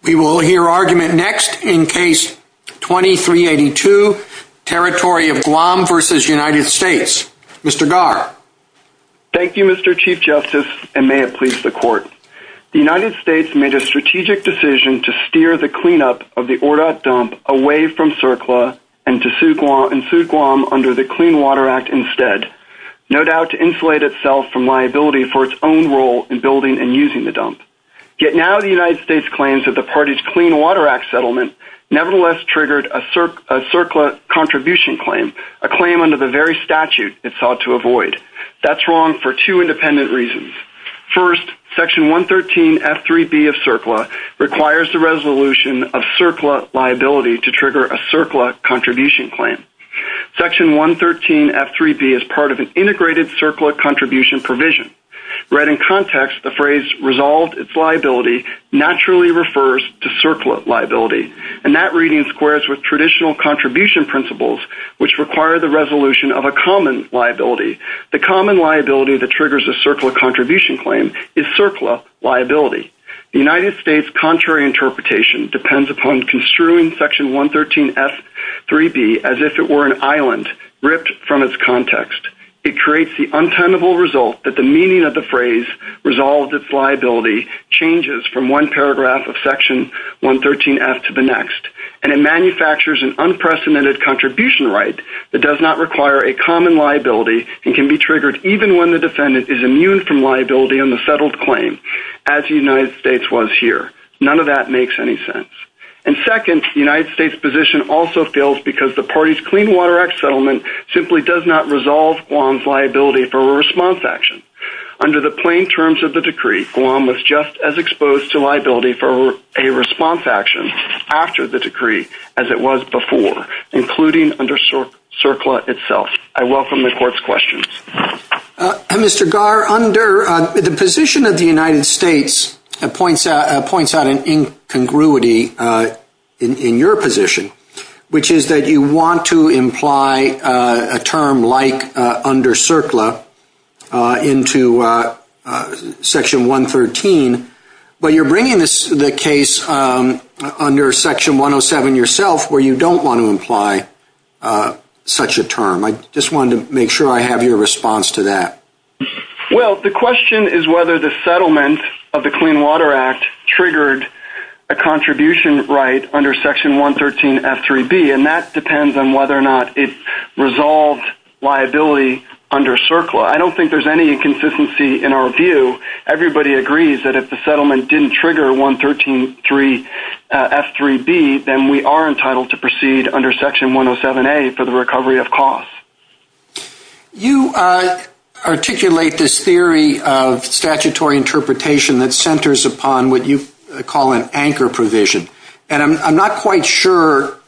We will hear argument next in Case 2382, Territory of Guam v. United States. Mr. Garr. Thank you, Mr. Chief Justice, and may it please the Court. The United States made a strategic decision to steer the cleanup of the Ordat dump away from CERCLA and to sue Guam under the Clean Water Act instead, no doubt to insulate itself from liability for its own role in building and settlement, nevertheless triggered a CERCLA contribution claim, a claim under the very statute it sought to avoid. That's wrong for two independent reasons. First, Section 113 F-3B of CERCLA requires the resolution of CERCLA liability to trigger a CERCLA contribution claim. Section 113 F-3B is part of an integrated CERCLA contribution provision. Read in context, the phrase resolved its liability naturally refers to CERCLA liability, and that reading squares with traditional contribution principles which require the resolution of a common liability. The common liability that triggers a CERCLA contribution claim is CERCLA liability. The United States' contrary interpretation depends upon construing Section 113 F-3B as if it were an island ripped from its context. It creates the untenable result that the meaning of the phrase resolved its liability changes from one paragraph of Section 113 F to the next, and it manufactures an unprecedented contribution right that does not require a common liability and can be triggered even when the defendant is immune from liability on the settled claim, as the United States was here. None of that makes any sense. And second, the United States' position also fails because the party's Clean Water Act settlement simply does not resolve Guam's liability for a response action. Under the plain terms of the decree, Guam was just as exposed to liability for a response action after the decree as it was before, including under CERCLA itself. I welcome the Court's questions. Mr. Garr, the position of the United States points out an incongruity in your position, which is that you want to imply a term like under CERCLA into Section 113, but you're bringing the case under Section 107 yourself where you don't want to imply such a term. I just wanted to make sure I have your response to that. Well, the question is whether the settlement of the Clean Water Act triggered a contribution right under Section 113F3B, and that depends on whether or not it resolved liability under CERCLA. I don't think there's any inconsistency in our view. Everybody agrees that if the settlement didn't trigger 113F3B, then we are entitled to proceed under Section 107A for the recovery of costs. You articulate this theory of statutory interpretation that centers upon what you call an anchor provision, and I'm not quite sure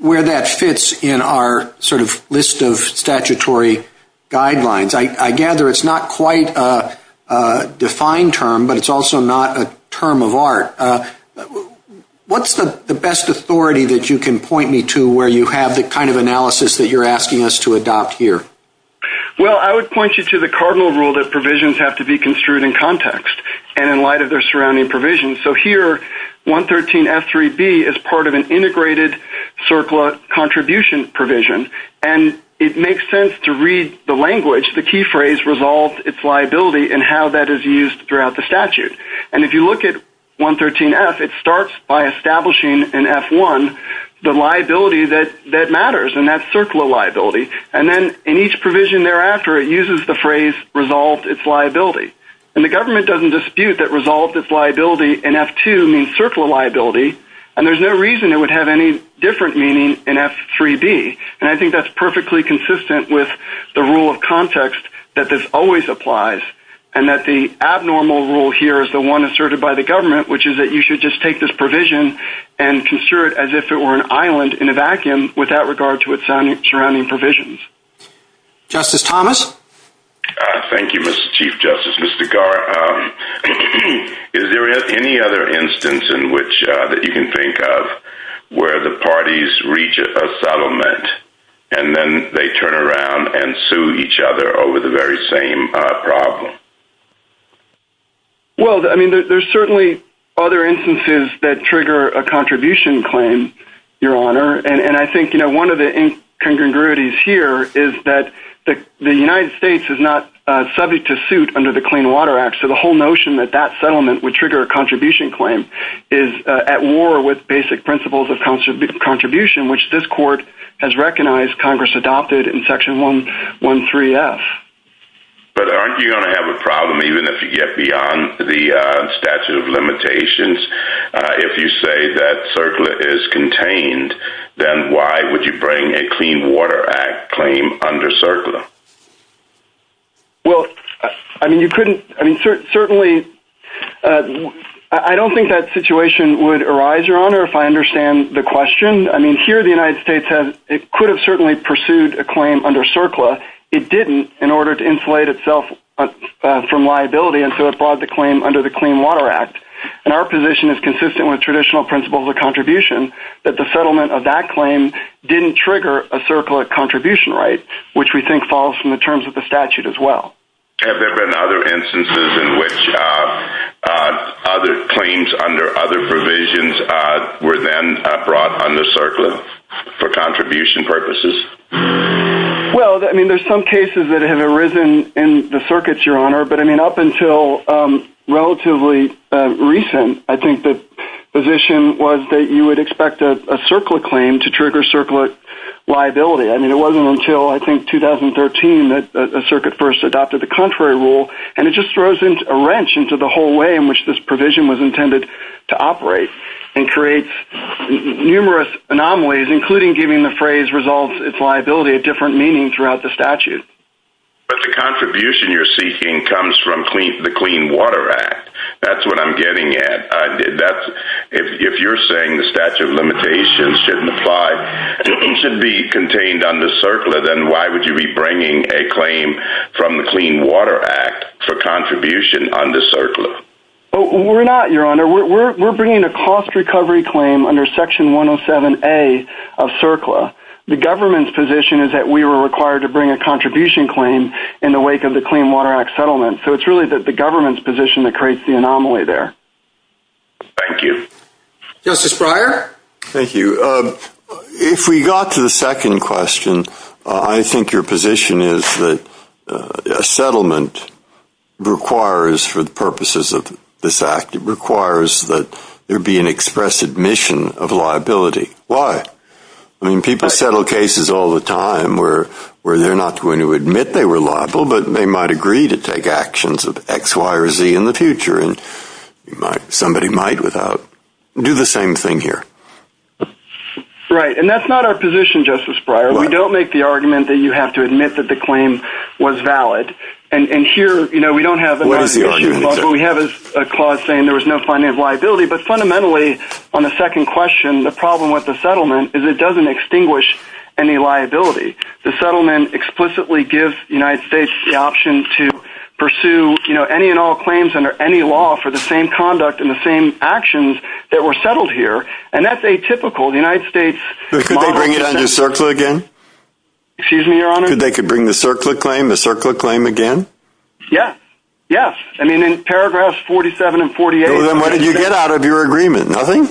where that fits in our sort of list of statutory guidelines. I gather it's not quite a defined term, but it's also not a term of art. What's the best authority that you can point me to where you have the kind of analysis that you're asking us to adopt here? Well, I would point you to the cardinal rule that provisions have to be construed in context and in light of their surrounding provisions. So here, 113F3B is part of an integrated CERCLA contribution provision, and it makes sense to read the language, the key phrase, resolved its liability, and how that is used throughout the statute. If you look at 113F, it starts by establishing in F1 the liability that matters, and that's CERCLA liability. And the government doesn't dispute that resolved its liability in F2 means CERCLA liability, and there's no reason it would have any different meaning in F3B. And I think that's perfectly consistent with the rule of context that this always applies, and that the abnormal rule here is the one asserted by the government, which is that you should just take this provision and construe it as if it were an island in a vacuum without regard to its surrounding provisions. Justice Thomas? Thank you, Mr. Chief Justice. Mr. Garr, is there any other instance in which that you can think of where the parties reach a settlement and then they turn around and sue each other over the very same problem? Well, I mean, there's certainly other instances that trigger a contribution claim, Your Honor. And I think, you know, one of the incongruities here is that the United States is not subject to suit under the Clean Water Act. So the whole notion that that settlement would trigger a contribution claim is at war with basic principles of contribution, which this court has recognized Congress adopted in Section 113F. But aren't you going to have a problem even if yet beyond the statute of limitations? If you say that CERCLA is contained, then why would you bring a Clean Water Act claim under CERCLA? Well, I mean, you couldn't, I mean, certainly, I don't think that situation would arise, Your Honor, if I understand the question. I mean, here, the United States could have certainly pursued a claim under CERCLA. It didn't in order to insulate itself from liability, and so it brought the claim under the Clean Water Act. And our position is consistent with traditional principles of contribution, that the settlement of that claim didn't trigger a CERCLA contribution right, which we think falls from the terms of the statute as well. Have there been other instances in which other claims under other provisions were then brought under CERCLA for contribution purposes? Well, I mean, there's some cases that have arisen in the circuits, Your Honor, but I mean, up until relatively recent, I think the position was that you would expect a CERCLA claim to trigger CERCLA liability. I mean, it wasn't until, I think, 2013 that a circuit first adopted the contrary rule, and it just throws a wrench into the whole way in which this provision was intended to operate, and creates numerous anomalies, including giving the phrase, resolves its liability, a different meaning throughout the statute. But the contribution you're seeking comes from the Clean Water Act. That's what I'm getting at. If you're saying the statute of limitations shouldn't apply, it shouldn't be contained under CERCLA, then why would you be bringing a claim from the Clean Water Act for contribution under CERCLA? We're not, Your Honor. We're bringing a cost recovery claim under section 107A of CERCLA. The government's position is that we were required to bring a contribution claim in the wake of the Clean Water Act settlement. So it's really the government's position that creates the anomaly there. Thank you. Justice Breyer? Thank you. If we got to the second question, I think your position is that a settlement requires, for the purposes of this Act, it requires that there be an express admission of liability. Why? I mean, people settle cases all the time where they're not going to admit they were liable, but they might agree to take actions of X, Y, or Z in the future, and somebody might do the same thing here. Right. And that's not our position, Justice Breyer. We don't make the argument that you have to admit that the claim was valid. And here, you know, we don't have a... What is the argument, sir? What we have is a clause saying there was no financial liability, but fundamentally, on the second question, the problem with the settlement is it doesn't extinguish any liability. The settlement explicitly gives the United States the option to pursue, you know, any and all claims under any law for the same conduct and the same actions that were settled here. And that's atypical. The United States... Could they bring it under CERCLA again? Excuse me, Your Honor? Could they bring the CERCLA claim, the CERCLA claim again? Yes. Yes. I mean, in paragraphs 47 and 48... Then what did you get out of your agreement? Nothing?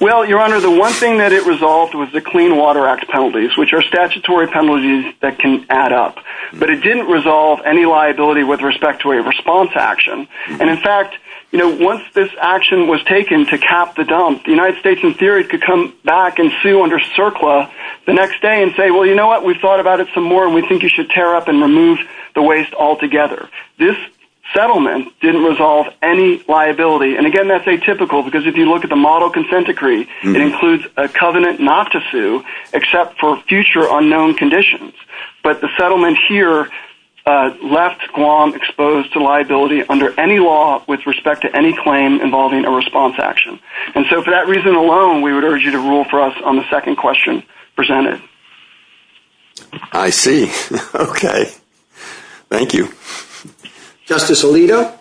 Well, Your Honor, the one thing that it resolved was the Clean Water Act penalties, which are statutory penalties that can add up. But it didn't resolve any liability with respect to a response action. And in fact, you know, once this action was taken to cap the dump, the United States, in theory, could come back and sue under CERCLA the next day and say, well, you know what? We've thought about it some more, and we think you should tear up and remove the waste altogether. This settlement didn't resolve any liability. And again, that's atypical, because if you look at the model consent decree, it includes a covenant not to sue except for future unknown conditions. But the settlement here left Guam exposed to liability under any law with respect to any claim involving a response action. And so for that reason alone, we would urge you to rule for us on the second question presented. I see. Okay. Thank you. Justice Alito?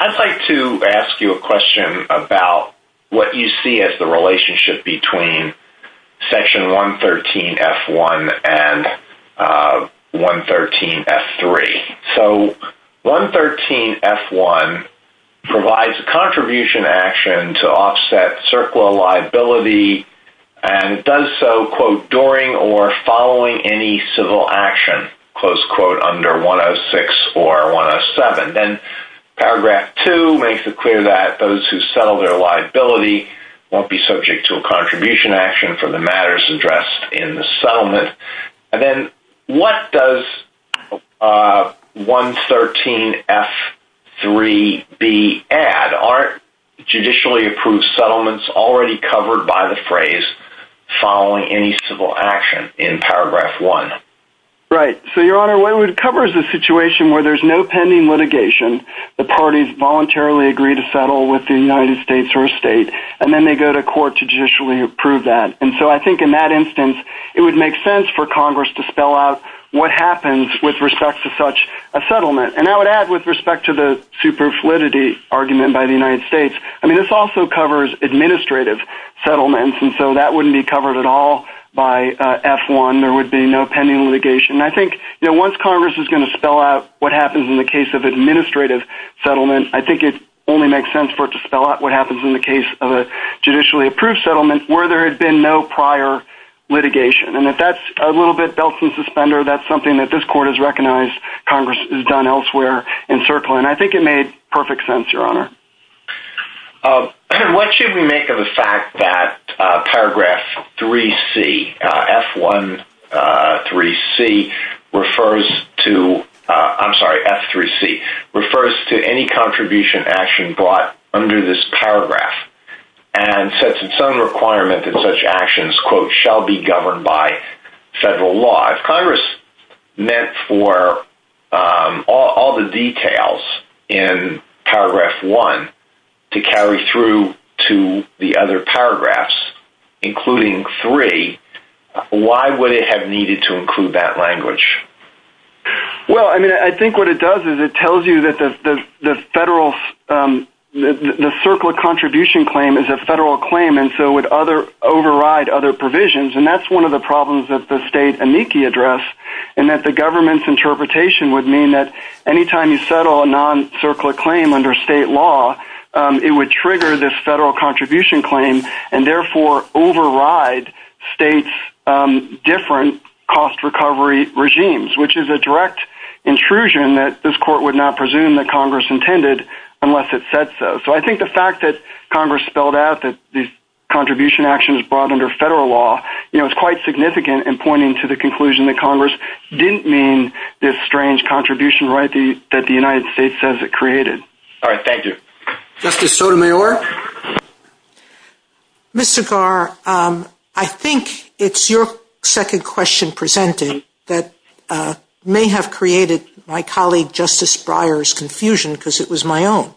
I'd like to ask you a question about what you see as the relationship between Section 113 F-1 and 113 F-3. So 113 F-1 provides a contribution action to offset CERCLA liability and does so, quote, during or following any civil action, close quote, under 106 or 107. Then Paragraph 2 makes it clear that those who settle their liability won't be subject to a contribution action for the matters addressed in the settlement. And then what does 113 F-3B add? Aren't judicially approved settlements already covered by the phrase following any civil action in Paragraph 1? Right. So, Your Honor, what it would cover is a situation where there's no pending litigation. The parties voluntarily agree to settle with the United States or a state, and then they go to court to judicially approve that. And so I think in that instance, it would make sense for Congress to spell out what happens with respect to such a settlement. And I would add, with respect to the superfluidity argument by the United States, I mean, this also covers administrative settlements. And so that wouldn't be covered at all by F-1. There would be no pending litigation. I think once Congress is going to spell out what happens in the case of administrative settlement, I think it only makes sense for it to spell out what happens in the case of a judicially approved settlement where there had been no prior litigation. And if that's a little bit belt and suspender, that's something that this court has recognized Congress has done in circling. And I think it made perfect sense, Your Honor. What should we make of the fact that Paragraph 3C, F-1 3C, refers to, I'm sorry, F-3C, refers to any contribution action brought under this paragraph and sets its own requirement that shall be governed by federal law. If Congress meant for all the details in Paragraph 1 to carry through to the other paragraphs, including 3, why would it have needed to include that language? Well, I mean, I think what it does is it tells you that the circle of contribution claim is a other provisions. And that's one of the problems that the state amici address, and that the government's interpretation would mean that anytime you settle a non-circular claim under state law, it would trigger this federal contribution claim and therefore override states' different cost recovery regimes, which is a direct intrusion that this court would not presume that Congress intended unless it said so. So I think the fact that Congress spelled out that contribution action is brought under federal law, you know, is quite significant in pointing to the conclusion that Congress didn't mean this strange contribution right that the United States says it created. All right. Thank you. Justice Sotomayor. Mr. Garr, I think it's your second question presented that may have created my colleague Justice Breyer's confusion because it was my own.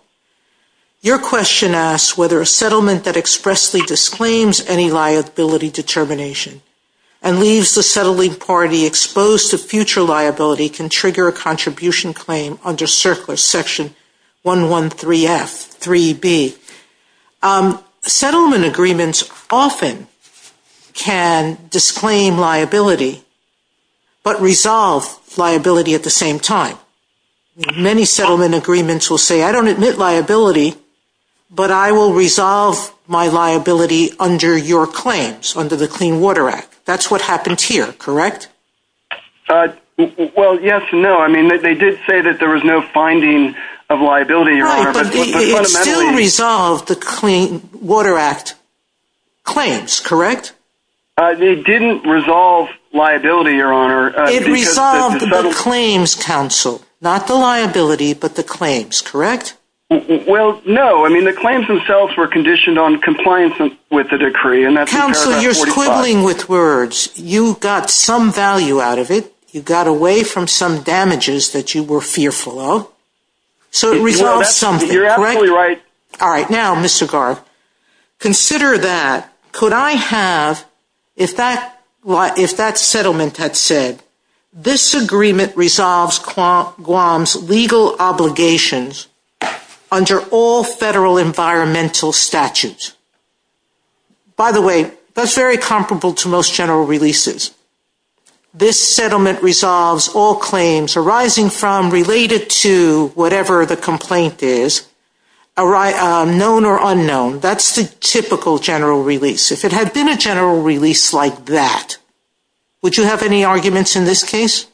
Your question asks whether a settlement that expressly disclaims any liability determination and leaves the settling party exposed to future liability can trigger a contribution claim under Circular Section 113F 3B. Settlement agreements often can disclaim liability but resolve liability at the same time. Many settlement agreements will say, I don't admit liability, but I will resolve my liability under your claims, under the Clean Water Act. That's what happened here, correct? Well, yes and no. I mean, they did say that there was no finding of liability, Your Honor. But it still resolved the Clean Water Act claims, correct? It didn't resolve liability, Your Honor. It resolved the claims, counsel. Not the liability, but the claims, correct? Well, no. I mean, the claims themselves were conditioned on compliance with the decree. Counsel, you're squibbling with words. You got some value out of it. You got away from some damages that you were fearful of. So it resolves something, correct? You're absolutely right. If that settlement had said, this agreement resolves Guam's legal obligations under all federal environmental statutes. By the way, that's very comparable to most general releases. This settlement resolves all claims arising from, related to, whatever the general release like that. Would you have any arguments in this case?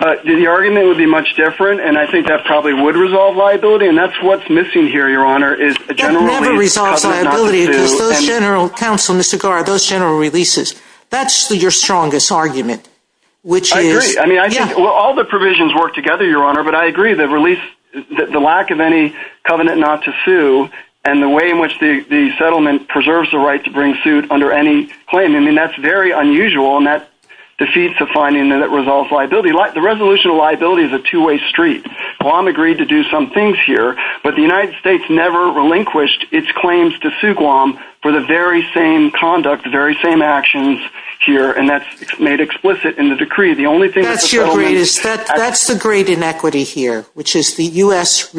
The argument would be much different. And I think that probably would resolve liability. And that's what's missing here, Your Honor, is a general release. It never resolves liability, because those general, counsel, Mr. Garrard, those general releases, that's your strongest argument. I agree. I mean, I think all the provisions work together, Your Honor. But I agree, the release, the lack of any covenant not to sue, and the way in which the settlement preserves the right to bring suit under any claim. I mean, that's very unusual, and that defeats the finding that it resolves liability. The resolution of liability is a two-way street. Guam agreed to do some things here, but the United States never relinquished its claims to sue Guam for the very same conduct, the very same actions here, and that's made explicit in the decree. The only thing that's... That's the great inequity here, which is the U.S.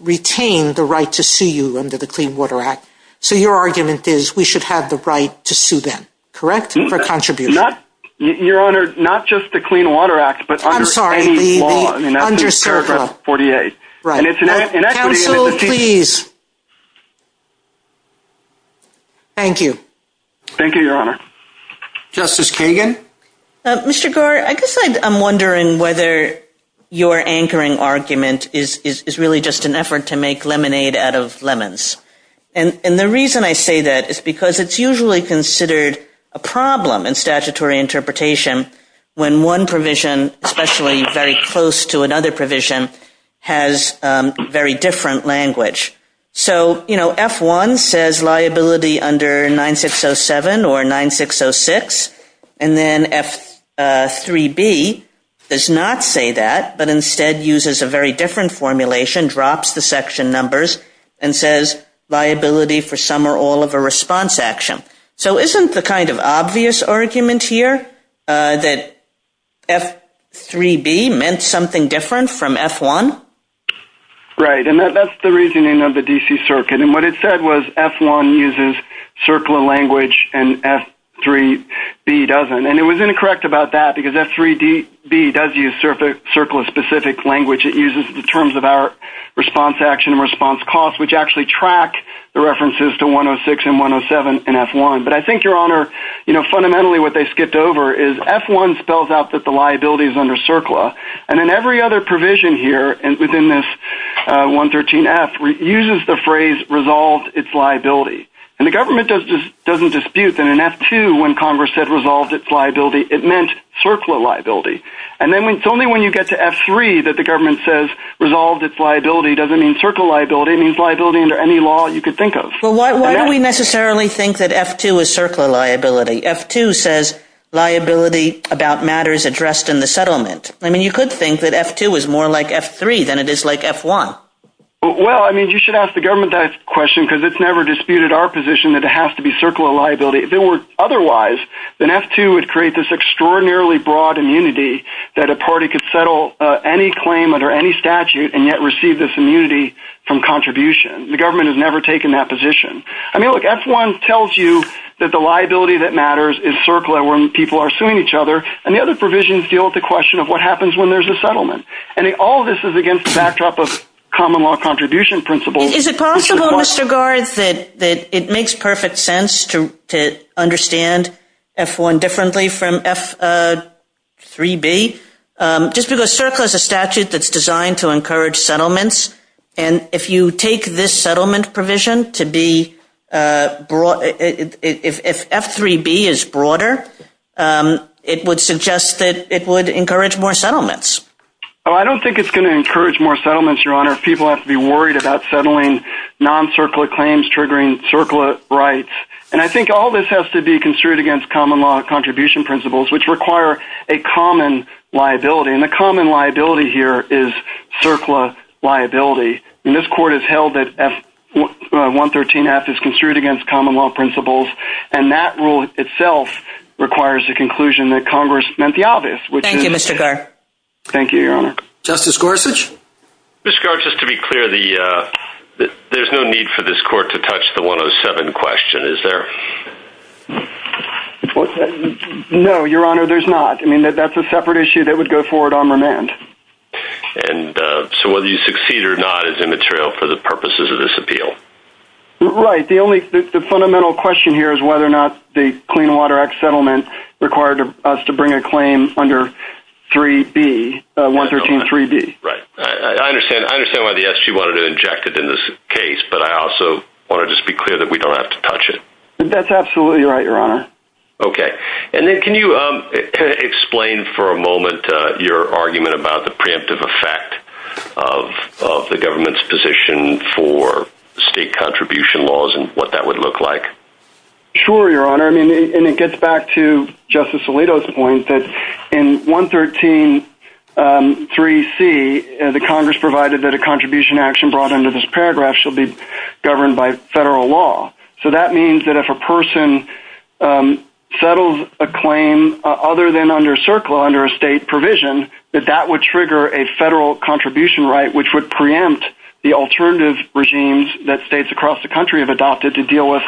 retained the right to sue you under the Clean Water Act. So your argument is we should have the right to sue them, correct, for contribution? Not, Your Honor, not just the Clean Water Act, but under any law. I'm sorry, the underserved... Paragraph 48. Right. Counsel, please. Thank you. Thank you, Your Honor. Justice Kagan? Mr. Garrard, I guess I'm wondering whether your anchoring argument is really just an effort to make lemonade out of lemons. And the reason I say that is because it's usually considered a problem in statutory interpretation when one provision, especially very close to another provision, has very different language. So, you know, F-1 says liability under 9607 or 9606, and then F-3B does not say that, but instead uses a very different formulation, drops the section numbers, and says liability for some or all of a response action. So isn't the kind of obvious argument here that F-3B meant something different from F-1? Right, and that's the reasoning of the D.C. Circuit, and what it said was F-1 uses circular language and F-3B doesn't. And it was incorrect about that because F-3B does use circular-specific language. It uses the terms of our response action and response cost, which actually track the references to 106 and 107 in F-1. But I think, Your Honor, you know, fundamentally what they skipped over is F-1 spells out that the liability is under circular, and then every other provision here within this 113F uses the phrase resolved its liability. And the government doesn't dispute that in F-2, when Congress said resolved its liability, it meant circular liability. And only when you get to F-3 that the government says resolved its liability doesn't mean circular liability. It means liability under any law you could think of. Well, why do we necessarily think that F-2 is circular liability? F-2 says liability about matters addressed in the settlement. I mean, you could think that F-2 is more like F-3 than it is like F-1. Well, I mean, you should ask the government that question because it's never disputed our position that it has to be circular liability. If it were otherwise, then F-2 would create this extraordinarily broad immunity that a party could settle any claim under any statute and yet receive this immunity from contribution. The government has never taken that position. I mean, look, F-1 tells you that the liability that matters is circular when people are suing each other, and the other provisions deal with the question of what happens when there's a settlement. And all of this is against the backdrop of common law contribution principles. Is it possible, Mr. Garth, that it makes perfect sense to understand F-1 differently from F-3B? Just because circular is a statute that's designed to encourage settlements, and if you take this settlement provision to be broad, if F-3B is broader, it would suggest that it would encourage more settlements. Well, I don't think it's going to encourage more settlements, Your Honor. People have to be worried about settling non-circular claims triggering circular rights. And I think all this has to be construed against common law contribution principles, which require a common liability. And the common liability here is circular liability. And this Court has held that F-113F is construed against common law principles, and that rule itself requires a conclusion that Congress meant the obvious. Thank you, Mr. Garth. Thank you, Your Honor. Justice Gorsuch? Mr. Garth, just to be clear, there's no need for this Court to touch the 107 question, is there? No, Your Honor, there's not. I mean, that's a separate issue that would go forward on remand. And so whether you succeed or not is immaterial for the purposes of this appeal? Right. The fundamental question here is whether or not the Clean Water Act settlement required us to bring a claim under 3B, 113-3B. Right. I understand why the SG wanted to inject it in this case, but I also want to just be clear that we don't have to touch it. That's absolutely right, Your Honor. Okay. And then can you explain for a moment your argument about the preemptive effect of the government's position for state contribution laws and what that would look like? Sure, Your Honor. I mean, and it gets back to Justice Alito's point that in 113-3C, the Congress provided that a contribution action brought under this paragraph shall be governed by federal law. So that means that if a person settles a claim other than under CERCLA, under a state provision, that that would trigger a federal contribution right, which would preempt the alternative regimes that states across the country have adopted to deal with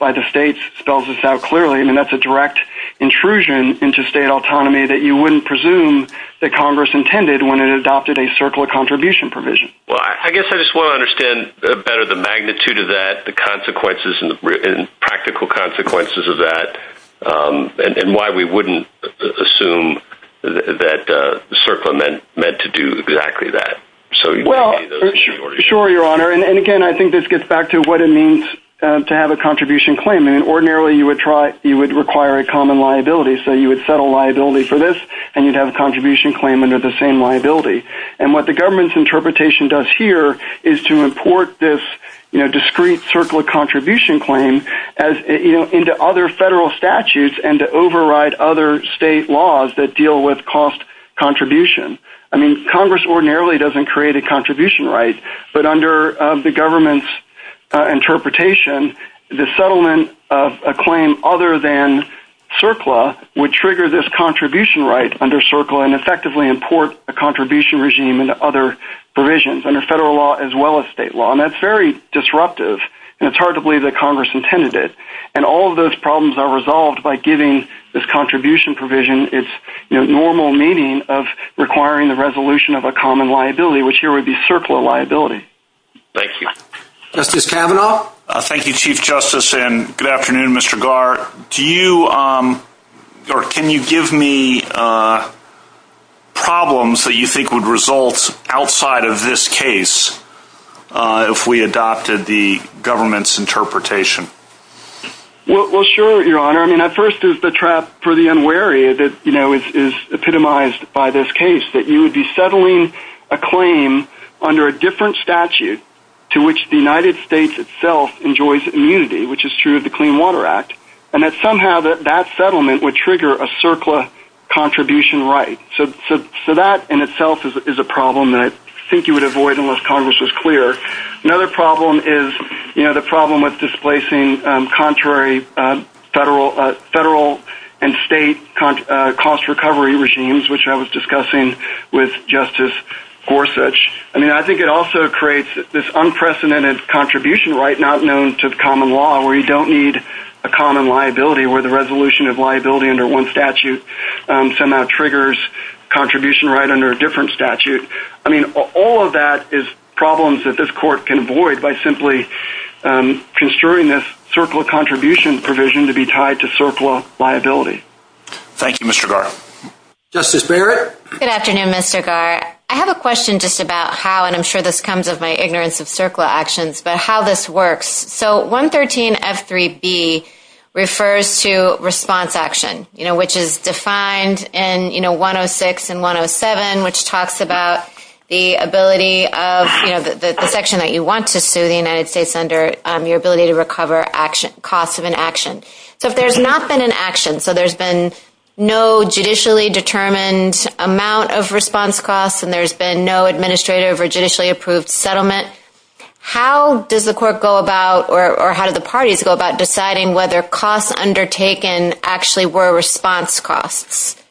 by the states. Spells this out clearly. I mean, that's a direct intrusion into state autonomy that you wouldn't presume that Congress intended when it adopted a CERCLA contribution provision. Well, I guess I just want to understand better the magnitude of that, the consequences and practical consequences of that, and why we wouldn't assume that CERCLA meant to do exactly that. Sure, Your Honor. And again, I think this gets back to what it means to have a contribution claim. And ordinarily, you would require a common liability. So you would set a liability for this, and you'd have a contribution claim under the same liability. And what the government's interpretation does here is to import this discrete CERCLA contribution claim into other federal statutes and to override other state laws that deal with cost contribution. I mean, Congress ordinarily doesn't create a contribution right, but under the government's interpretation, the settlement of a claim other than CERCLA would trigger this contribution right under CERCLA and effectively import a contribution regime into other provisions under federal law as well as state law. And that's very disruptive, and it's hard to believe that Congress intended it. And all of those problems are resolved by giving this contribution provision its normal meaning of requiring the resolution of a common liability, which here would be CERCLA liability. Thank you. Justice Kavanaugh? Thank you, Chief Justice, and good afternoon, Mr. Garr. Do you, or can you give me problems that you think would result outside of this case if we adopted the government's interpretation? Well, sure, Your Honor. I mean, at first, it's the trap for the unwary that, you know, is epitomized by this case, that you would be settling a claim under a different statute to which the United States itself enjoys immunity, which is true of the Clean Water Act, and that somehow that that settlement would trigger a CERCLA contribution right. So that in itself is a problem that I think you would avoid unless Congress was clear. Another problem is, you know, the problem with displacing contrary federal and state cost recovery regimes, which I was discussing with Justice Gorsuch. I mean, I think it also creates this unprecedented contribution right not known to the common law, where you don't need a common liability, where the resolution of liability under one statute somehow triggers contribution right under a different statute. I mean, all of that is problems that this court can avoid by simply construing this CERCLA contribution provision to be tied to CERCLA liability. Thank you, Mr. Garr. Justice Barrett? Good afternoon, Mr. Garr. I have a question just about how, and I'm sure this comes of my ignorance of CERCLA actions, but how this works. So 113F3B refers to response action, you know, which is defined in, you know, 106 and 107, which talks about the ability of, you know, the section that you want to sue the United States under your ability to recover action, costs of an action. So if there's not been an action, so there's been no judicially determined amount of response costs, and there's been no administrative or judicially approved settlement, how does the court go about, or how do the parties go about deciding whether costs undertaken actually were response costs?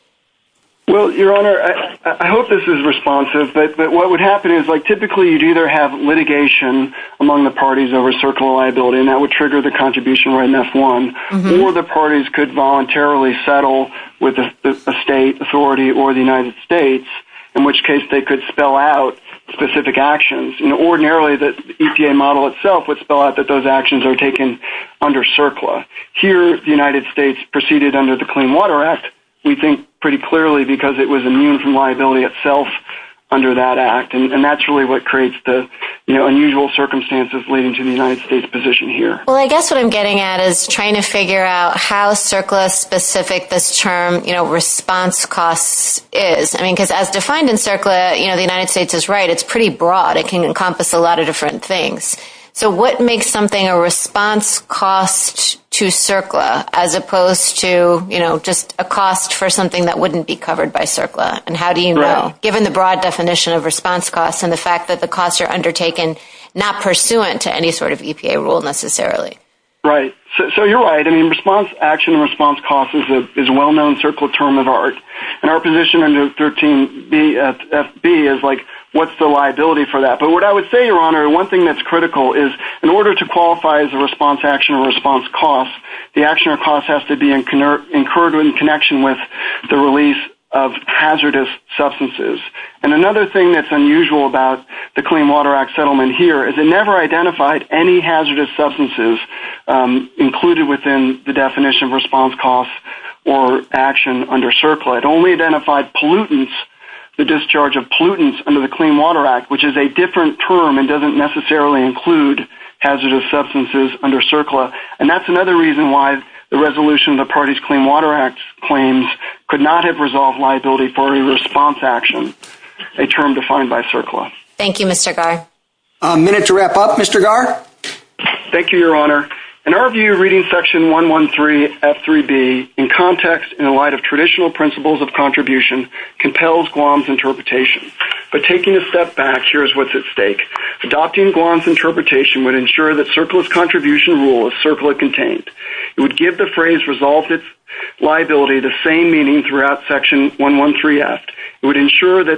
Well, Your Honor, I hope this is responsive, but what would happen is, like, typically you'd either have litigation among the parties over CERCLA liability, and that would trigger the contribution right in F1, or the parties could voluntarily settle with a state authority or the United States, in which case they could spell out specific actions. You know, ordinarily the EPA model itself would spell out that those actions are taken under CERCLA. Here, the United States proceeded under the Clean Water Act, we think pretty clearly because it was immune from liability itself under that act, and that's really what creates the, you know, unusual circumstances leading to the United States position here. Well, I guess what I'm getting at is trying to figure out how CERCLA specific this term, you know, response costs is. I mean, because as defined in CERCLA, you know, the United States is right. It's pretty broad. It can encompass a lot of different things. So what makes something a response cost to CERCLA? As opposed to, you know, just a cost for something that wouldn't be covered by CERCLA, and how do you know, given the broad definition of response costs and the fact that the costs are undertaken not pursuant to any sort of EPA rule necessarily? Right. So you're right. I mean, response action and response costs is a well-known CERCLA term of art, and our position under 13BFB is, like, what's the liability for that? But what I would say, Your Honor, one thing that's critical is in order to qualify as a response action or response cost, the action or cost has to be incurred in connection with the release of hazardous substances. And another thing that's unusual about the Clean Water Act settlement here is it never identified any hazardous substances included within the definition of response costs or action under CERCLA. It only identified pollutants, the discharge of pollutants under the Clean Water Act, which is a different term and doesn't necessarily include hazardous substances under CERCLA. And that's another reason why the resolution of the Party's Clean Water Act claims could not have resolved liability for a response action, a term defined by CERCLA. Thank you, Mr. Garr. A minute to wrap up, Mr. Garr. Thank you, Your Honor. In our view, reading Section 113F3B in context in the light of traditional principles of contribution compels Guam's interpretation. But taking a step back, here's what's at stake. Adopting Guam's interpretation would ensure that CERCLA's contribution rule is CERCLA-contained. It would give the phrase, resolved its liability, the same meaning throughout Section 113F. It would ensure that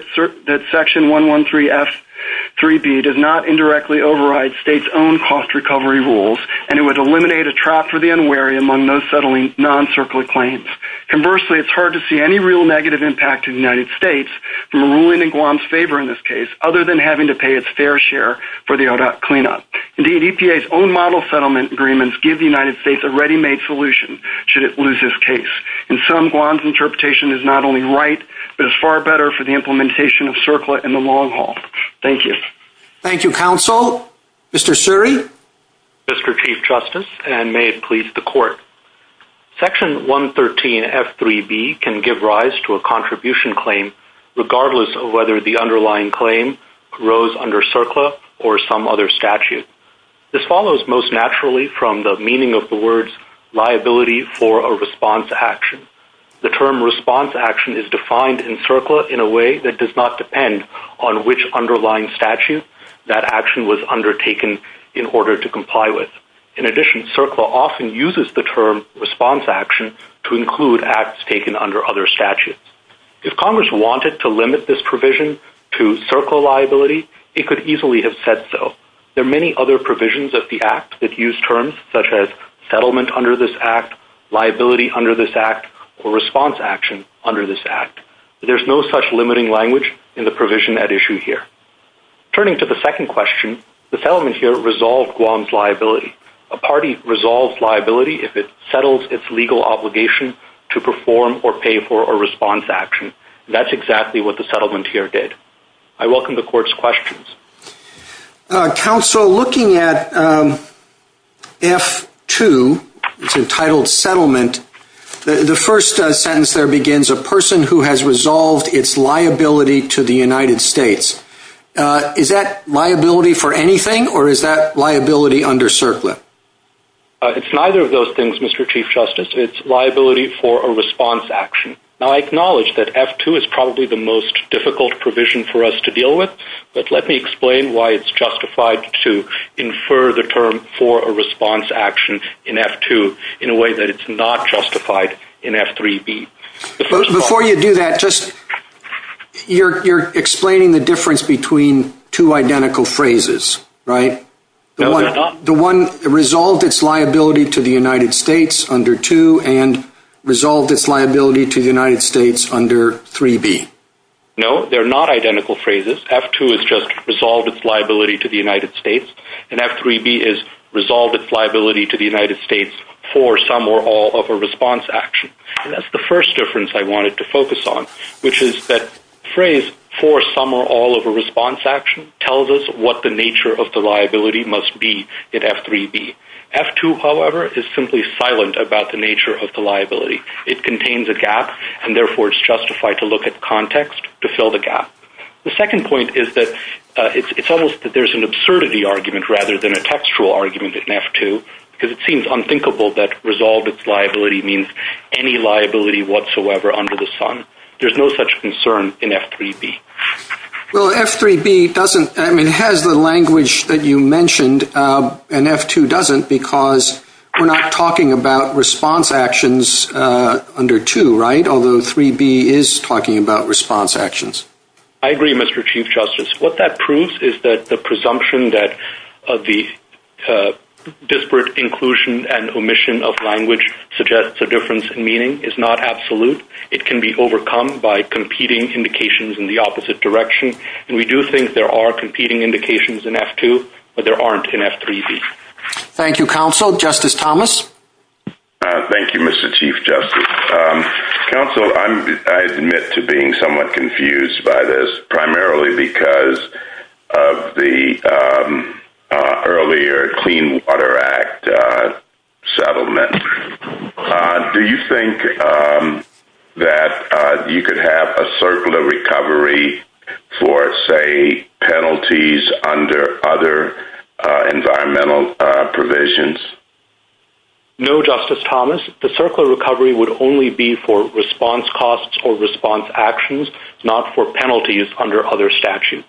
Section 113F3B does not indirectly override states' own cost recovery rules, and it would eliminate a trap for the unwary among those settling non-CERCLA claims. Conversely, it's hard to see any real negative impact to the United States from ruling in Guam's favor in this case, other than having to pay its fair share for the ODOT cleanup. Indeed, EPA's own model settlement agreements give the United States a ready-made solution should it lose this case. In sum, Guam's interpretation is not only right, but is far better for the implementation of CERCLA in the long haul. Thank you. Thank you, counsel. Mr. Suri. Mr. Chief Justice, and may it please the Court, I would like to make a brief comment on CERCLA's contribution claim, regardless of whether the underlying claim arose under CERCLA or some other statute. This follows most naturally from the meaning of the words, liability for a response action. The term response action is defined in CERCLA in a way that does not depend on which underlying statute that action was undertaken in order to comply with. In addition, CERCLA often uses the term response action to include acts taken under other statutes. If Congress wanted to limit this provision to CERCLA liability, it could easily have said so. There are many other provisions of the Act that use terms such as settlement under this Act, liability under this Act, or response action under this Act. There's no such limiting language in the provision at issue here. Turning to the second question, the settlement here resolved Guam's liability. A party resolves liability if it settles its legal obligation to perform or pay for a response action. That's exactly what the settlement here did. I welcome the Court's questions. Counsel, looking at F2, it's entitled settlement, the first sentence there begins, a person who has resolved its liability to the United States. Is that liability for anything or is that liability under CERCLA? It's neither of those things, Mr. Chief Justice. It's liability for a response action. Now, I acknowledge that F2 is probably the most difficult provision for us to deal with, but let me explain why it's justified to infer the term for a response action in F2 in a way that it's not justified in F3b. Before you do that, you're explaining the difference between two identical phrases, right? No, they're not. The one resolved its liability to the United States under 2 and resolved its liability to the United States under 3b. No, they're not identical phrases. F2 is just resolved its liability to the United States and F3b is resolved its liability to the all of a response action. And that's the first difference I wanted to focus on, which is that phrase for some or all of a response action tells us what the nature of the liability must be in F3b. F2, however, is simply silent about the nature of the liability. It contains a gap and therefore it's justified to look at context to fill the gap. The second point is that it's almost that there's an absurdity argument rather than textual argument in F2 because it seems unthinkable that resolved its liability means any liability whatsoever under the sun. There's no such concern in F3b. Well, F3b doesn't, I mean, has the language that you mentioned and F2 doesn't because we're not talking about response actions under 2, right? Although 3b is talking about response actions. I agree, Mr. Chief Justice. What that proves is that the presumption that the disparate inclusion and omission of language suggests a difference in meaning is not absolute. It can be overcome by competing indications in the opposite direction. And we do think there are competing indications in F2, but there aren't in F3b. Thank you, counsel. Justice Thomas. Thank you, Mr. Chief Justice. Counsel, I admit to being somewhat confused by this, primarily because of the earlier Clean Water Act settlement. Do you think that you could have a circular recovery for, say, penalties under other environmental provisions? No, Justice Thomas. The circular recovery would only be for response costs or response actions, not for penalties under other statutes.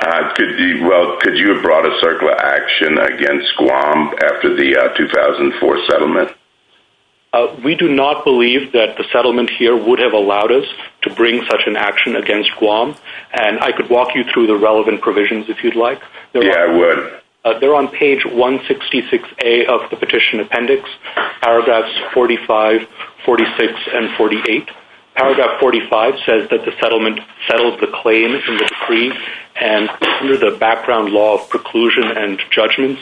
Well, could you have brought a circular action against Guam after the 2004 settlement? We do not believe that the settlement here would have allowed us to bring such an action against Guam. And I could walk you through the relevant provisions if you'd like. Yeah, I would. They're on page 166A of the petition appendix, paragraphs 45, 46, and 48. Paragraph 45 says that the settlement settles the claim in the decree and under the background law of preclusion and judgments,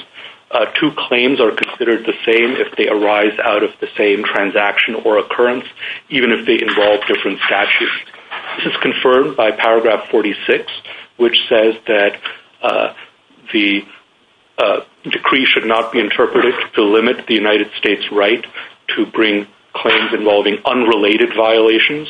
two claims are considered the same if they arise out of the same transaction or occurrence, even if they involve different statutes. This is confirmed by paragraph 46, which says that the decree should not be interpreted to limit the United States' right to bring claims involving unrelated violations.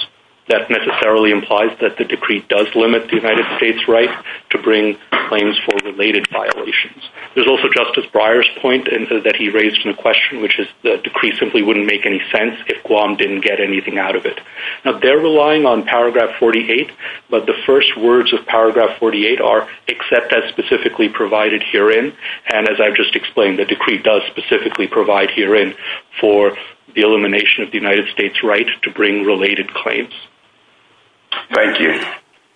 That necessarily implies that the decree does limit the United States' right to bring claims for related violations. There's also Justice Breyer's point that he raised in the question, which is the decree simply wouldn't make any sense if Guam didn't get anything out of it. Now, they're relying on paragraph 48, but the first words of paragraph 48 are, except that's specifically provided herein, and as I've just explained, the decree does specifically provide herein for the elimination of the United States' right to bring related claims. Thank you.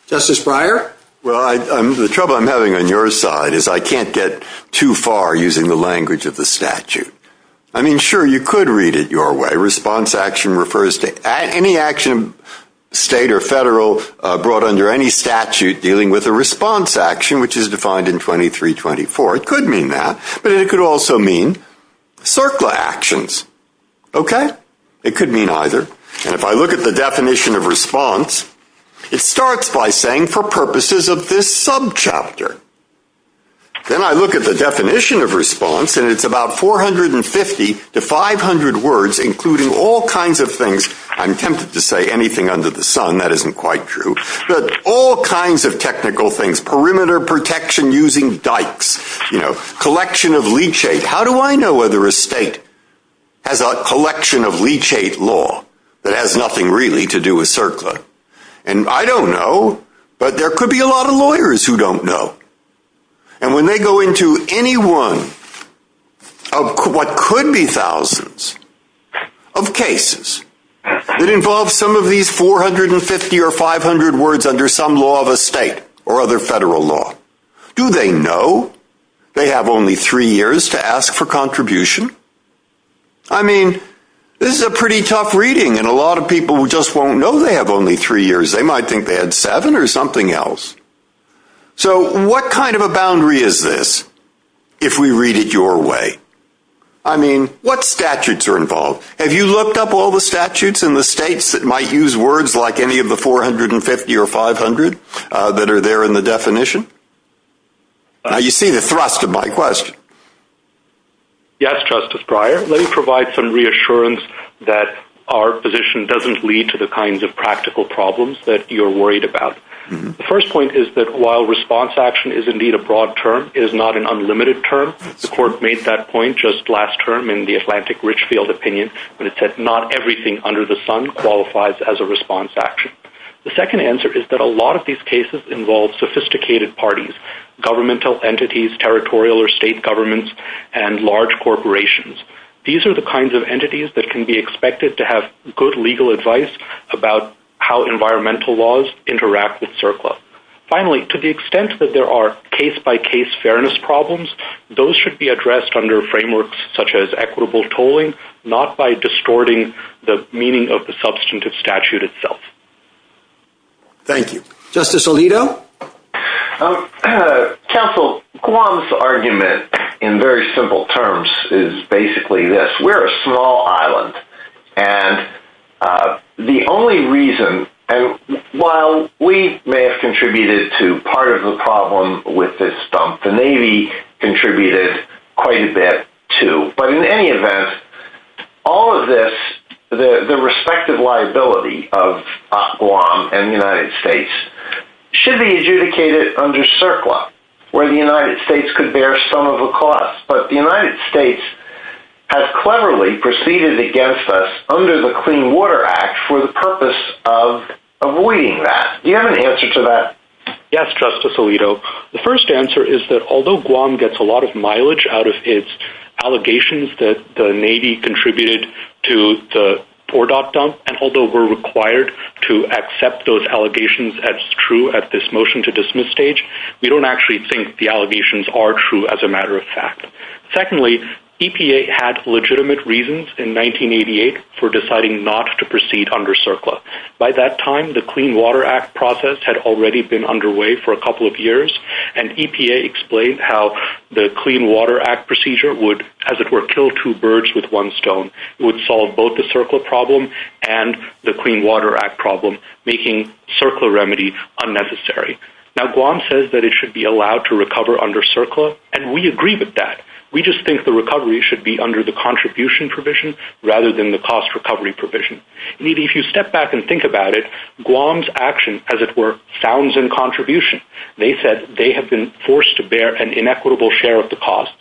Justice Breyer? Well, the trouble I'm having on your side is I can't get too far using the language of the statute. I mean, sure, you could read it your way. Response action, state or federal, brought under any statute dealing with a response action, which is defined in 2324. It could mean that, but it could also mean circular actions. Okay? It could mean either. And if I look at the definition of response, it starts by saying, for purposes of this subchapter. Then I look at the definition of response, and it's about 450 to 500 words, including all kinds of things. I'm tempted to say anything under the sun. That isn't quite true. But all kinds of technical things, perimeter protection using dikes, you know, collection of leachate. How do I know whether a state has a collection of leachate law that has nothing really to do with circular? And I don't know, but there could be a lot of lawyers who have thousands of cases that involve some of these 450 or 500 words under some law of a state or other federal law. Do they know they have only three years to ask for contribution? I mean, this is a pretty tough reading, and a lot of people just won't know they have only three years. They might think they had seven or something else. So what kind of a boundary is this if we read it your way? I mean, what statutes are involved? Have you looked up all the statutes in the states that might use words like any of the 450 or 500 that are there in the definition? Now, you see the thrust of my question. Yes, Justice Breyer. Let me provide some reassurance that our position doesn't lead to the kinds of practical problems that you're worried about. The first point is that while response action is indeed a broad term, it is not an unlimited term. The court made that point just last term in the Atlantic Richfield opinion when it said not everything under the sun qualifies as a response action. The second answer is that a lot of these cases involve sophisticated parties, governmental entities, territorial or state governments, and large corporations. These are the kinds of entities that can be expected to have good legal advice about how environmental laws interact with CERCLA. Finally, to the extent that there are case-by-case fairness problems, those should be addressed under frameworks such as equitable tolling, not by distorting the meaning of the substantive statute itself. Thank you. Justice Alito. Counsel, Guam's argument in very simple terms is basically this. We're a small island, and the only reason, and while we may have contributed to part of the problem with this dump, the Navy contributed quite a bit too. But in any event, all of this, the respective liability of Guam and the United States should be adjudicated under CERCLA, where the United States could bear some of the cost. But the United States has cleverly proceeded against us under the Clean Water Act for the purpose of avoiding that. Do you have an answer to that? Yes, Justice Alito. The first answer is that although Guam gets a lot of mileage out of its allegations that the Navy contributed to the TorDOT dump, and although we're required to accept those allegations as true at this motion to dismiss stage, we don't actually think the allegations are true as a matter of fact. Secondly, EPA had legitimate reasons in 1988 for deciding not to proceed under CERCLA. By that time, the Clean Water Act process had already been underway for a couple of years, and EPA explained how the Clean Water Act procedure would, as it were, kill two birds with one stone. It would solve both the CERCLA problem and the Clean Water Act problem, making CERCLA remedy unnecessary. Now, Guam says that it should be allowed to recover under CERCLA, and we agree with that. We just think the recovery should be under the contribution provision rather than the cost recovery provision. Indeed, if you step back and think about it, Guam's action, as it were, sounds in contribution. They said they have been forced to bear an inequitable share of the costs,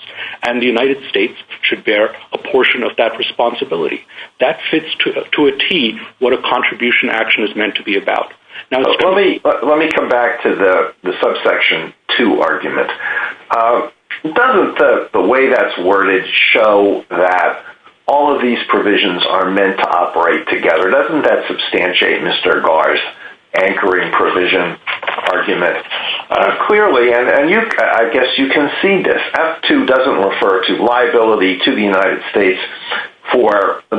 and the United States should bear a portion of that responsibility. That fits to a T what a contribution action is meant to be about. Let me come back to the subsection 2 argument. Doesn't the way that's worded show that all of these provisions are meant to operate together? Doesn't that substantiate Mr. Gar's anchoring provision argument clearly? I guess you can see this. F2 doesn't refer to liability to the United States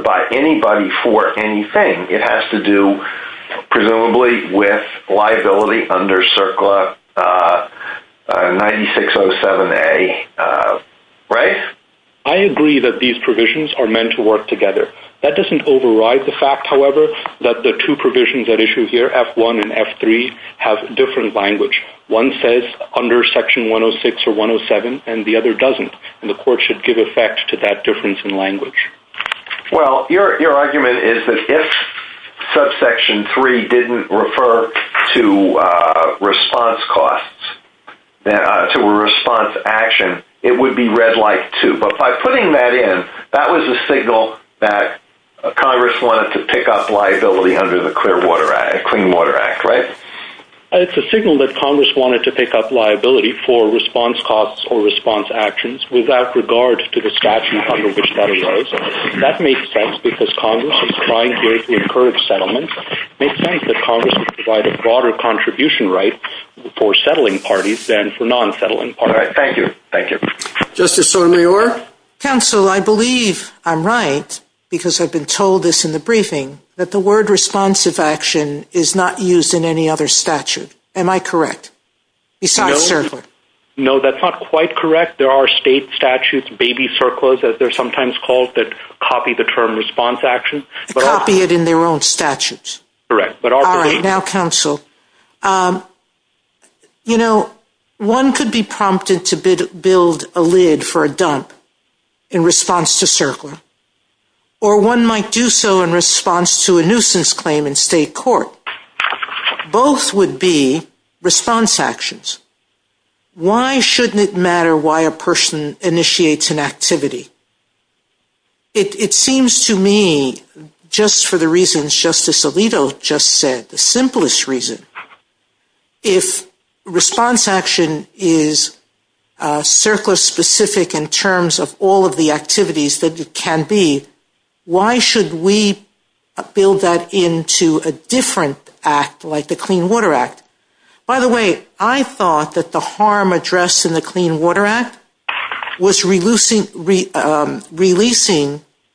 by anybody for anything. It has to do presumably with liability under CERCLA 9607A, right? I agree that these provisions are meant to work together. That doesn't override the fact, however, that the two provisions at issue here, F1 and F3, have different language. One says under section 106 or 107, and the other doesn't, and the court should give effect to that difference in language. Well, your argument is that if subsection 3 didn't refer to response costs, to a response action, it would be read like 2, but by putting that in, that was a signal that Congress wanted to pick up liability under the Clean Water Act, right? It's a signal that Congress wanted to pick up liability for response costs or response actions without regard to the statute under which that arose. That makes sense because Congress is trying to encourage settlement. It makes sense that Congress would provide a broader contribution right for settling parties than for non-settling parties. Thank you. Thank you. Justice Sotomayor? Counsel, I believe I'm right because I've been told this in the briefing, that the word responsive action is not used in any other statute. Am I correct? Besides CERCLA? No, that's not quite correct. There are state statutes, baby CERCLAs, as they're sometimes called, that copy the term response action. Copy it in their own statutes. Correct. Now, counsel, you know, one could be prompted to build a lid for a dump in response to CERCLA, or one might do so in response to a nuisance claim in state court. Both would be response actions. Why shouldn't it matter why a person initiates an activity? It seems to me, just for the reasons Justice Alito just said, the simplest reason, if response action is CERCLA specific in terms of all of the activities that it can be, why should we build that into a different act like the Clean Water Act? By the way, I thought that the harm addressed in the Clean Water Act was releasing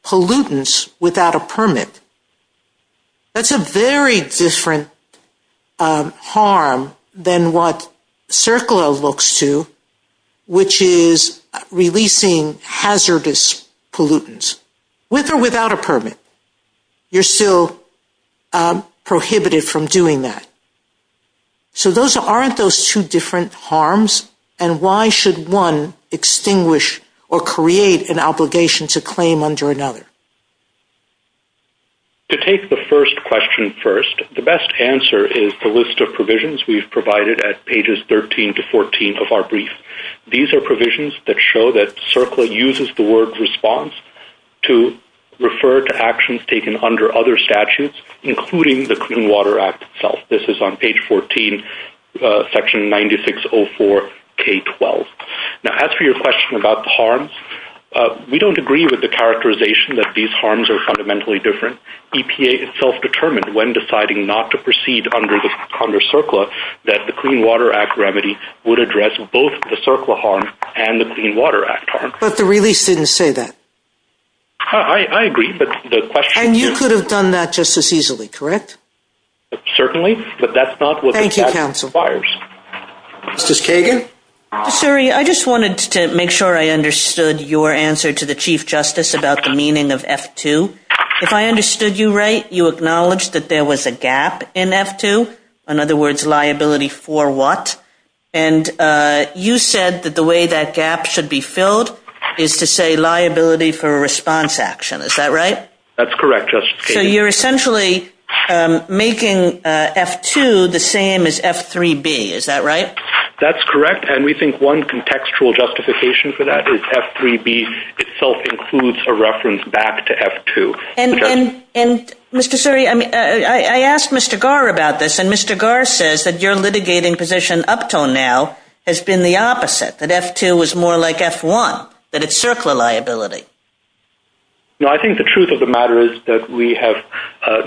pollutants without a permit. That's a very different harm than what CERCLA looks to, which is releasing hazardous pollutants, with or without a permit. You're still prohibited from doing that. So those aren't those two different harms, and why should one extinguish or create an obligation to claim under another? To take the first question first, the best answer is the list of provisions we've provided at pages 13 to 14 of our brief. These are provisions that show that CERCLA uses the word response to refer to actions taken under other statutes, including the Clean Water Act itself. This is on page 14, section 9604 K-12. Now, as for your question about the harms, we don't agree with the characterization that these harms are fundamentally different. EPA itself determined when deciding not to proceed under CERCLA that the Clean Water Act remedy would address both the CERCLA harm and the Clean Water Act harm. But the release didn't say that. I agree, but the question is... And you could have done that just as easily, correct? Certainly, but that's not what... Thank you, counsel. ...the statute requires. Justice Kagan? Suri, I just wanted to make sure I understood your answer to the Chief Justice about the meaning of F-2. If I understood you right, you acknowledged that there was a gap in F-2, in other words, that gap should be filled, is to say liability for a response action. Is that right? That's correct, Justice Kagan. So you're essentially making F-2 the same as F-3B. Is that right? That's correct, and we think one contextual justification for that is F-3B itself includes a reference back to F-2. And, Mr. Suri, I asked Mr. Garr about this, and Mr. Garr says that your litigating position up till now has been the opposite, that F-2 was more like F-1, that it's CERCLA liability. No, I think the truth of the matter is that we have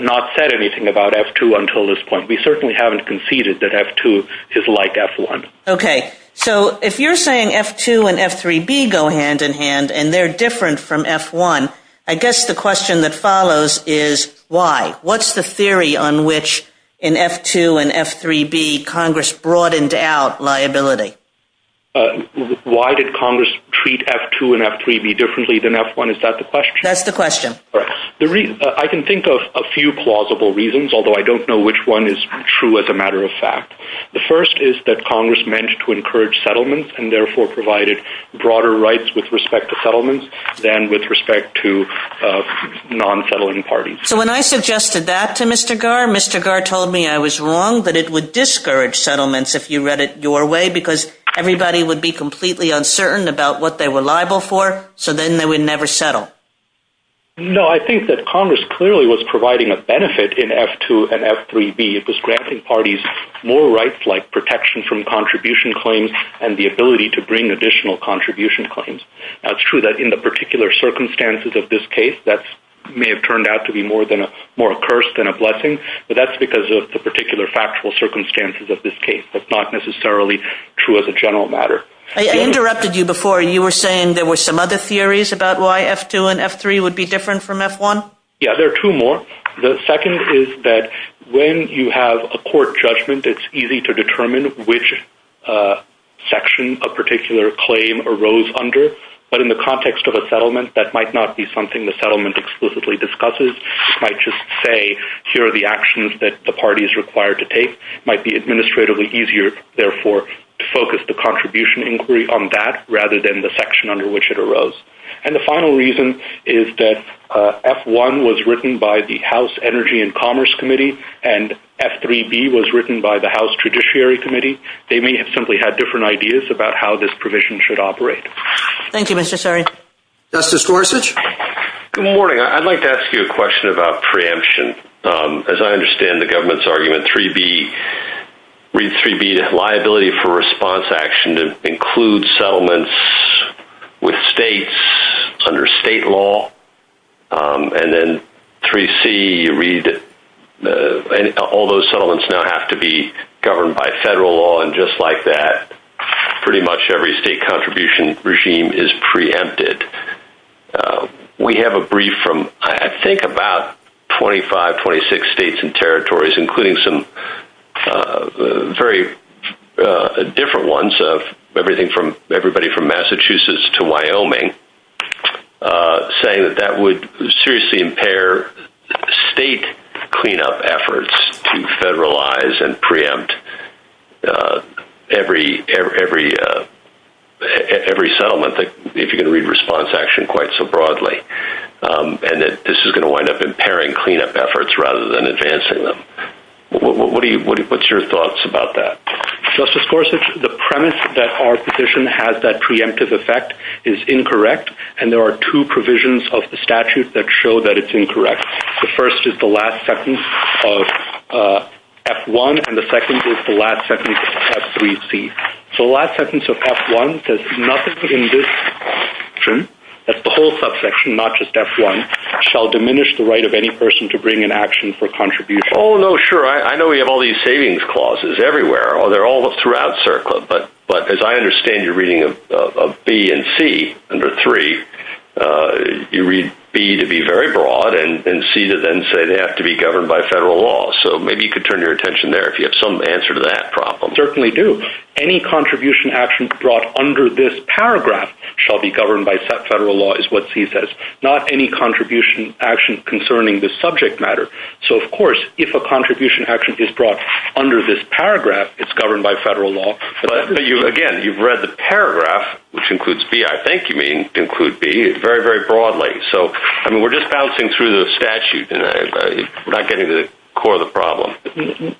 not said anything about F-2 until this point. We certainly haven't conceded that F-2 is like F-1. Okay. So if you're saying F-2 and F-3B go hand in hand and they're different from F-1, I guess the question that follows is why? What's the theory on which in F-2 and F-3B Congress broadened out liability? Why did Congress treat F-2 and F-3B differently than F-1? Is that the question? That's the question. I can think of a few plausible reasons, although I don't know which one is true as a matter of fact. The first is that Congress meant to encourage settlements and provided broader rights with respect to settlements than with respect to non-settling parties. So when I suggested that to Mr. Garr, Mr. Garr told me I was wrong, that it would discourage settlements if you read it your way because everybody would be completely uncertain about what they were liable for, so then they would never settle. No, I think that Congress clearly was providing a benefit in F-2 and F-3B. It was granting parties more rights like protection from contribution claims and the ability to bring additional contribution claims. Now, it's true that in the particular circumstances of this case, that may have turned out to be more a curse than a blessing, but that's because of the particular factual circumstances of this case. That's not necessarily true as a general matter. I interrupted you before. You were saying there were some other theories about why F-2 and F-3 would be different from F-1? Yeah, there are two more. The second is that when you have a court judgment, it's easy to determine which section a particular claim arose under, but in the context of a settlement, that might not be something the settlement explicitly discusses. It might just say, here are the actions that the party is required to take. It might be administratively easier, therefore, to focus the contribution inquiry on that rather than the section under which it arose. And the final reason is that F-1 was written by the House Energy and Commerce Committee and F-3B was written by the House Judiciary Committee. They may have simply had different ideas about how this provision should operate. Thank you, Mr. Sari. Justice Gorsuch? Good morning. I'd like to ask you a question about preemption. As I understand the government's argument, 3B, read 3B, liability for response action to include settlements with states under state law, and then 3C, read all those settlements now have to be governed by federal law, and just like that, pretty much every state contribution regime is preempted. We have a brief from, I think, about 25, 26 states and territories, including some very different ones of everybody from Massachusetts to Wyoming, saying that that would seriously impair state cleanup efforts to federalize and preempt every settlement, if you're going to read response action quite so broadly, and that this is going to wind up impairing cleanup efforts rather than advancing them. What's your thoughts about that? Justice Gorsuch, the premise that our position has that preemptive effect is incorrect, and there are two provisions of the statute that show that it's incorrect. The first is the last sentence of F-1, and the second is the last sentence of F-3C. So the last sentence of F-1 says, nothing in this section, that's the whole subsection, not just F-1, shall diminish the right of any person to bring an action for contribution. Oh, no, sure. I know we have all these savings clauses everywhere, or they're all throughout CERCLA, but as I understand your reading of B and C under 3, you read B to be very broad, and C to then say they have to be governed by federal law. So maybe you could turn your attention there, if you have some answer to that problem. Certainly do. Any contribution action brought under this paragraph shall be governed by federal law, is what C says, not any contribution action concerning the subject matter. So, of course, if a contribution action is brought under this paragraph, it's governed by federal law. But you, again, you've read the paragraph, which includes B, I think you mean include B, very, very broadly. So, I mean, we're just bouncing through the statute, and we're not getting to the core of the problem.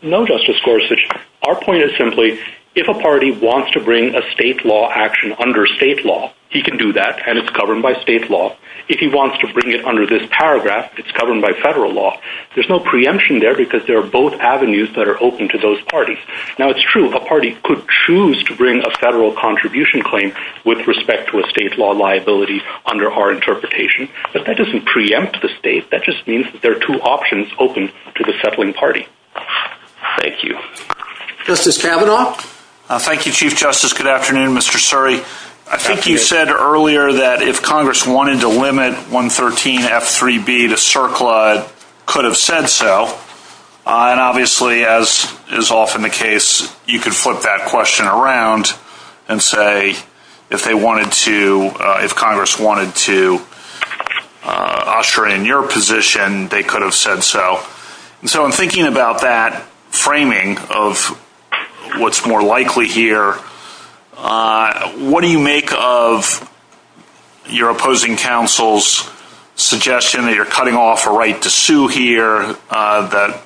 No, Justice Gorsuch. Our point is simply, if a party wants to bring a state law action under state law, he can do that, and it's governed by state law. If he wants to bring it under this paragraph, it's governed by federal law. There's no preemption there, because there are both avenues that are open to those parties. Now, it's true, a party could choose to bring a federal contribution claim with respect to a state law liability under our interpretation, but that doesn't preempt the state. That just means that there are two options open to the settling party. Thank you. Justice Kavanaugh. Thank you, Chief Justice. Good afternoon, Mr. Suri. I think you said earlier that if Congress wanted to limit 113 F3B to CERCLA, it could have said so, and obviously, as is often the case, you could flip that question around and say if they wanted to, if Congress wanted to usher in your position, they could have said so. And so I'm thinking about that framing of what's more likely here. What do you make of your opposing counsel's suggestion that you're cutting off a right to sue here, that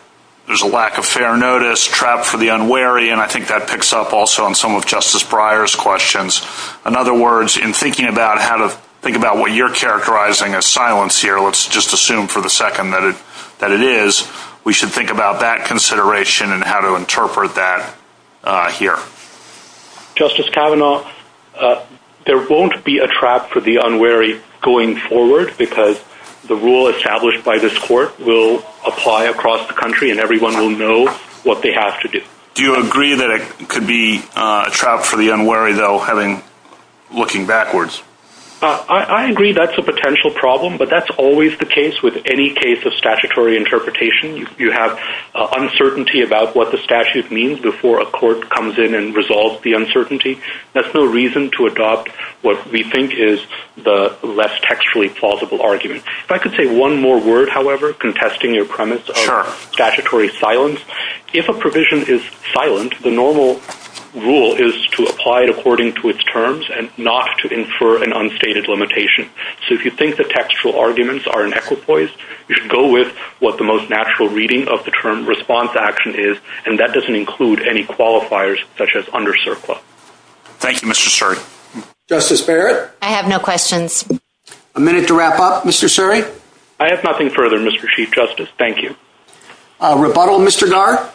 there's a lack of fair notice, trap for the unwary, and I think that picks up also on some of Justice Breyer's questions. In other words, in thinking about how to think about what you're characterizing as silence here, let's just assume for the second that it is, we should think about that consideration and how to interpret that here. Justice Kavanaugh, there won't be a trap for the unwary going forward because the rule established by this court will apply across the country and everyone will know what they have to do. Do you agree that it could be a trap for the unwary, though, having, looking backwards? I agree that's a potential problem, but that's always the case with any case of statutory interpretation. You have uncertainty about what the statute means before a court comes in and resolves the uncertainty. There's no reason to adopt what we think is the less textually plausible argument. If I could say one more word, however, contesting your premise of statutory silence. If a provision is silent, the normal rule is to apply it according to its terms and not to infer an unstated limitation. So, if you think the textual arguments are in equipoise, you should go with what the most natural reading of the term response action is, and that doesn't include any qualifiers such as under CERCLA. Thank you, Mr. Suri. Justice Barrett. I have no questions. A minute to wrap up, Mr. Suri. I have nothing further, Mr. Chief Justice. Thank you. Rebuttal, Mr. Garr.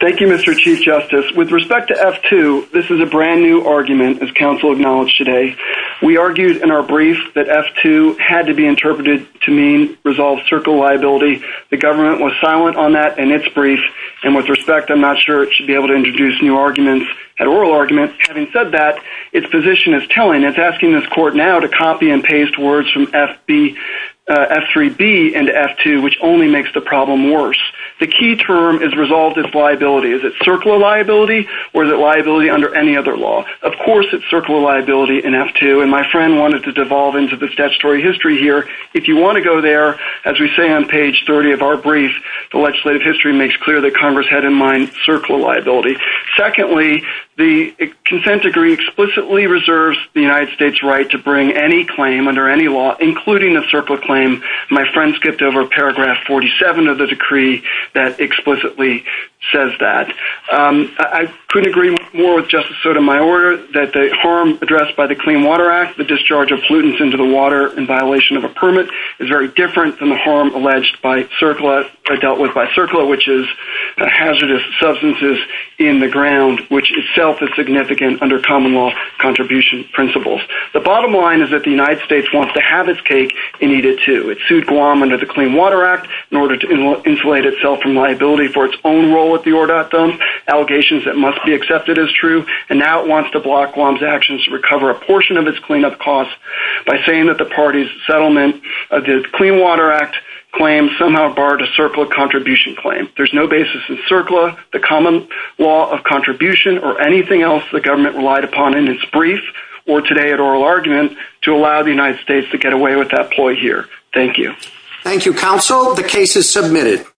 Thank you, Mr. Chief Justice. With respect to F-2, this is a brand new argument, as counsel acknowledged today. We argued in our brief that F-2 had to be interpreted to mean resolved CERCLA liability. The government was silent on that in its brief, and with respect, I'm not sure it should be able to introduce new arguments at oral argument. Having said that, its position is telling. It's asking this court now to copy and paste words from F-3B into F-2, which only makes the problem worse. The key term is resolved as liability. Is it CERCLA liability, or is it liability under any other law? Of course, it's CERCLA liability in F-2, and my friend wanted to devolve into this statutory history here. If you want to go there, as we say on page 30 of our brief, the legislative history makes clear that Congress had in mind CERCLA liability. Secondly, the consent decree explicitly reserves the United States' right to bring any claim under any law, including a CERCLA claim. My friend skipped over paragraph 47 of the decree that explicitly says that. I couldn't agree more with Justice Sotomayor that the harm addressed by the Clean Water Act, the discharge of pollutants into the water in violation of a permit, is very different than the harm alleged by CERCLA or dealt with by CERCLA, which is hazardous substances in the ground, which itself is significant under common law contribution principles. The bottom line is that the United It sued Guam under the Clean Water Act in order to insulate itself from liability for its own role with the ORDOT, allegations that must be accepted as true, and now it wants to block Guam's actions to recover a portion of its cleanup costs by saying that the party's settlement of the Clean Water Act claim somehow barred a CERCLA contribution claim. There's no basis in CERCLA, the common law of contribution, or anything else the government relied upon in its brief or today at oral argument to allow the United States to get away with that ploy here. Thank you. Thank you, counsel. The case is submitted.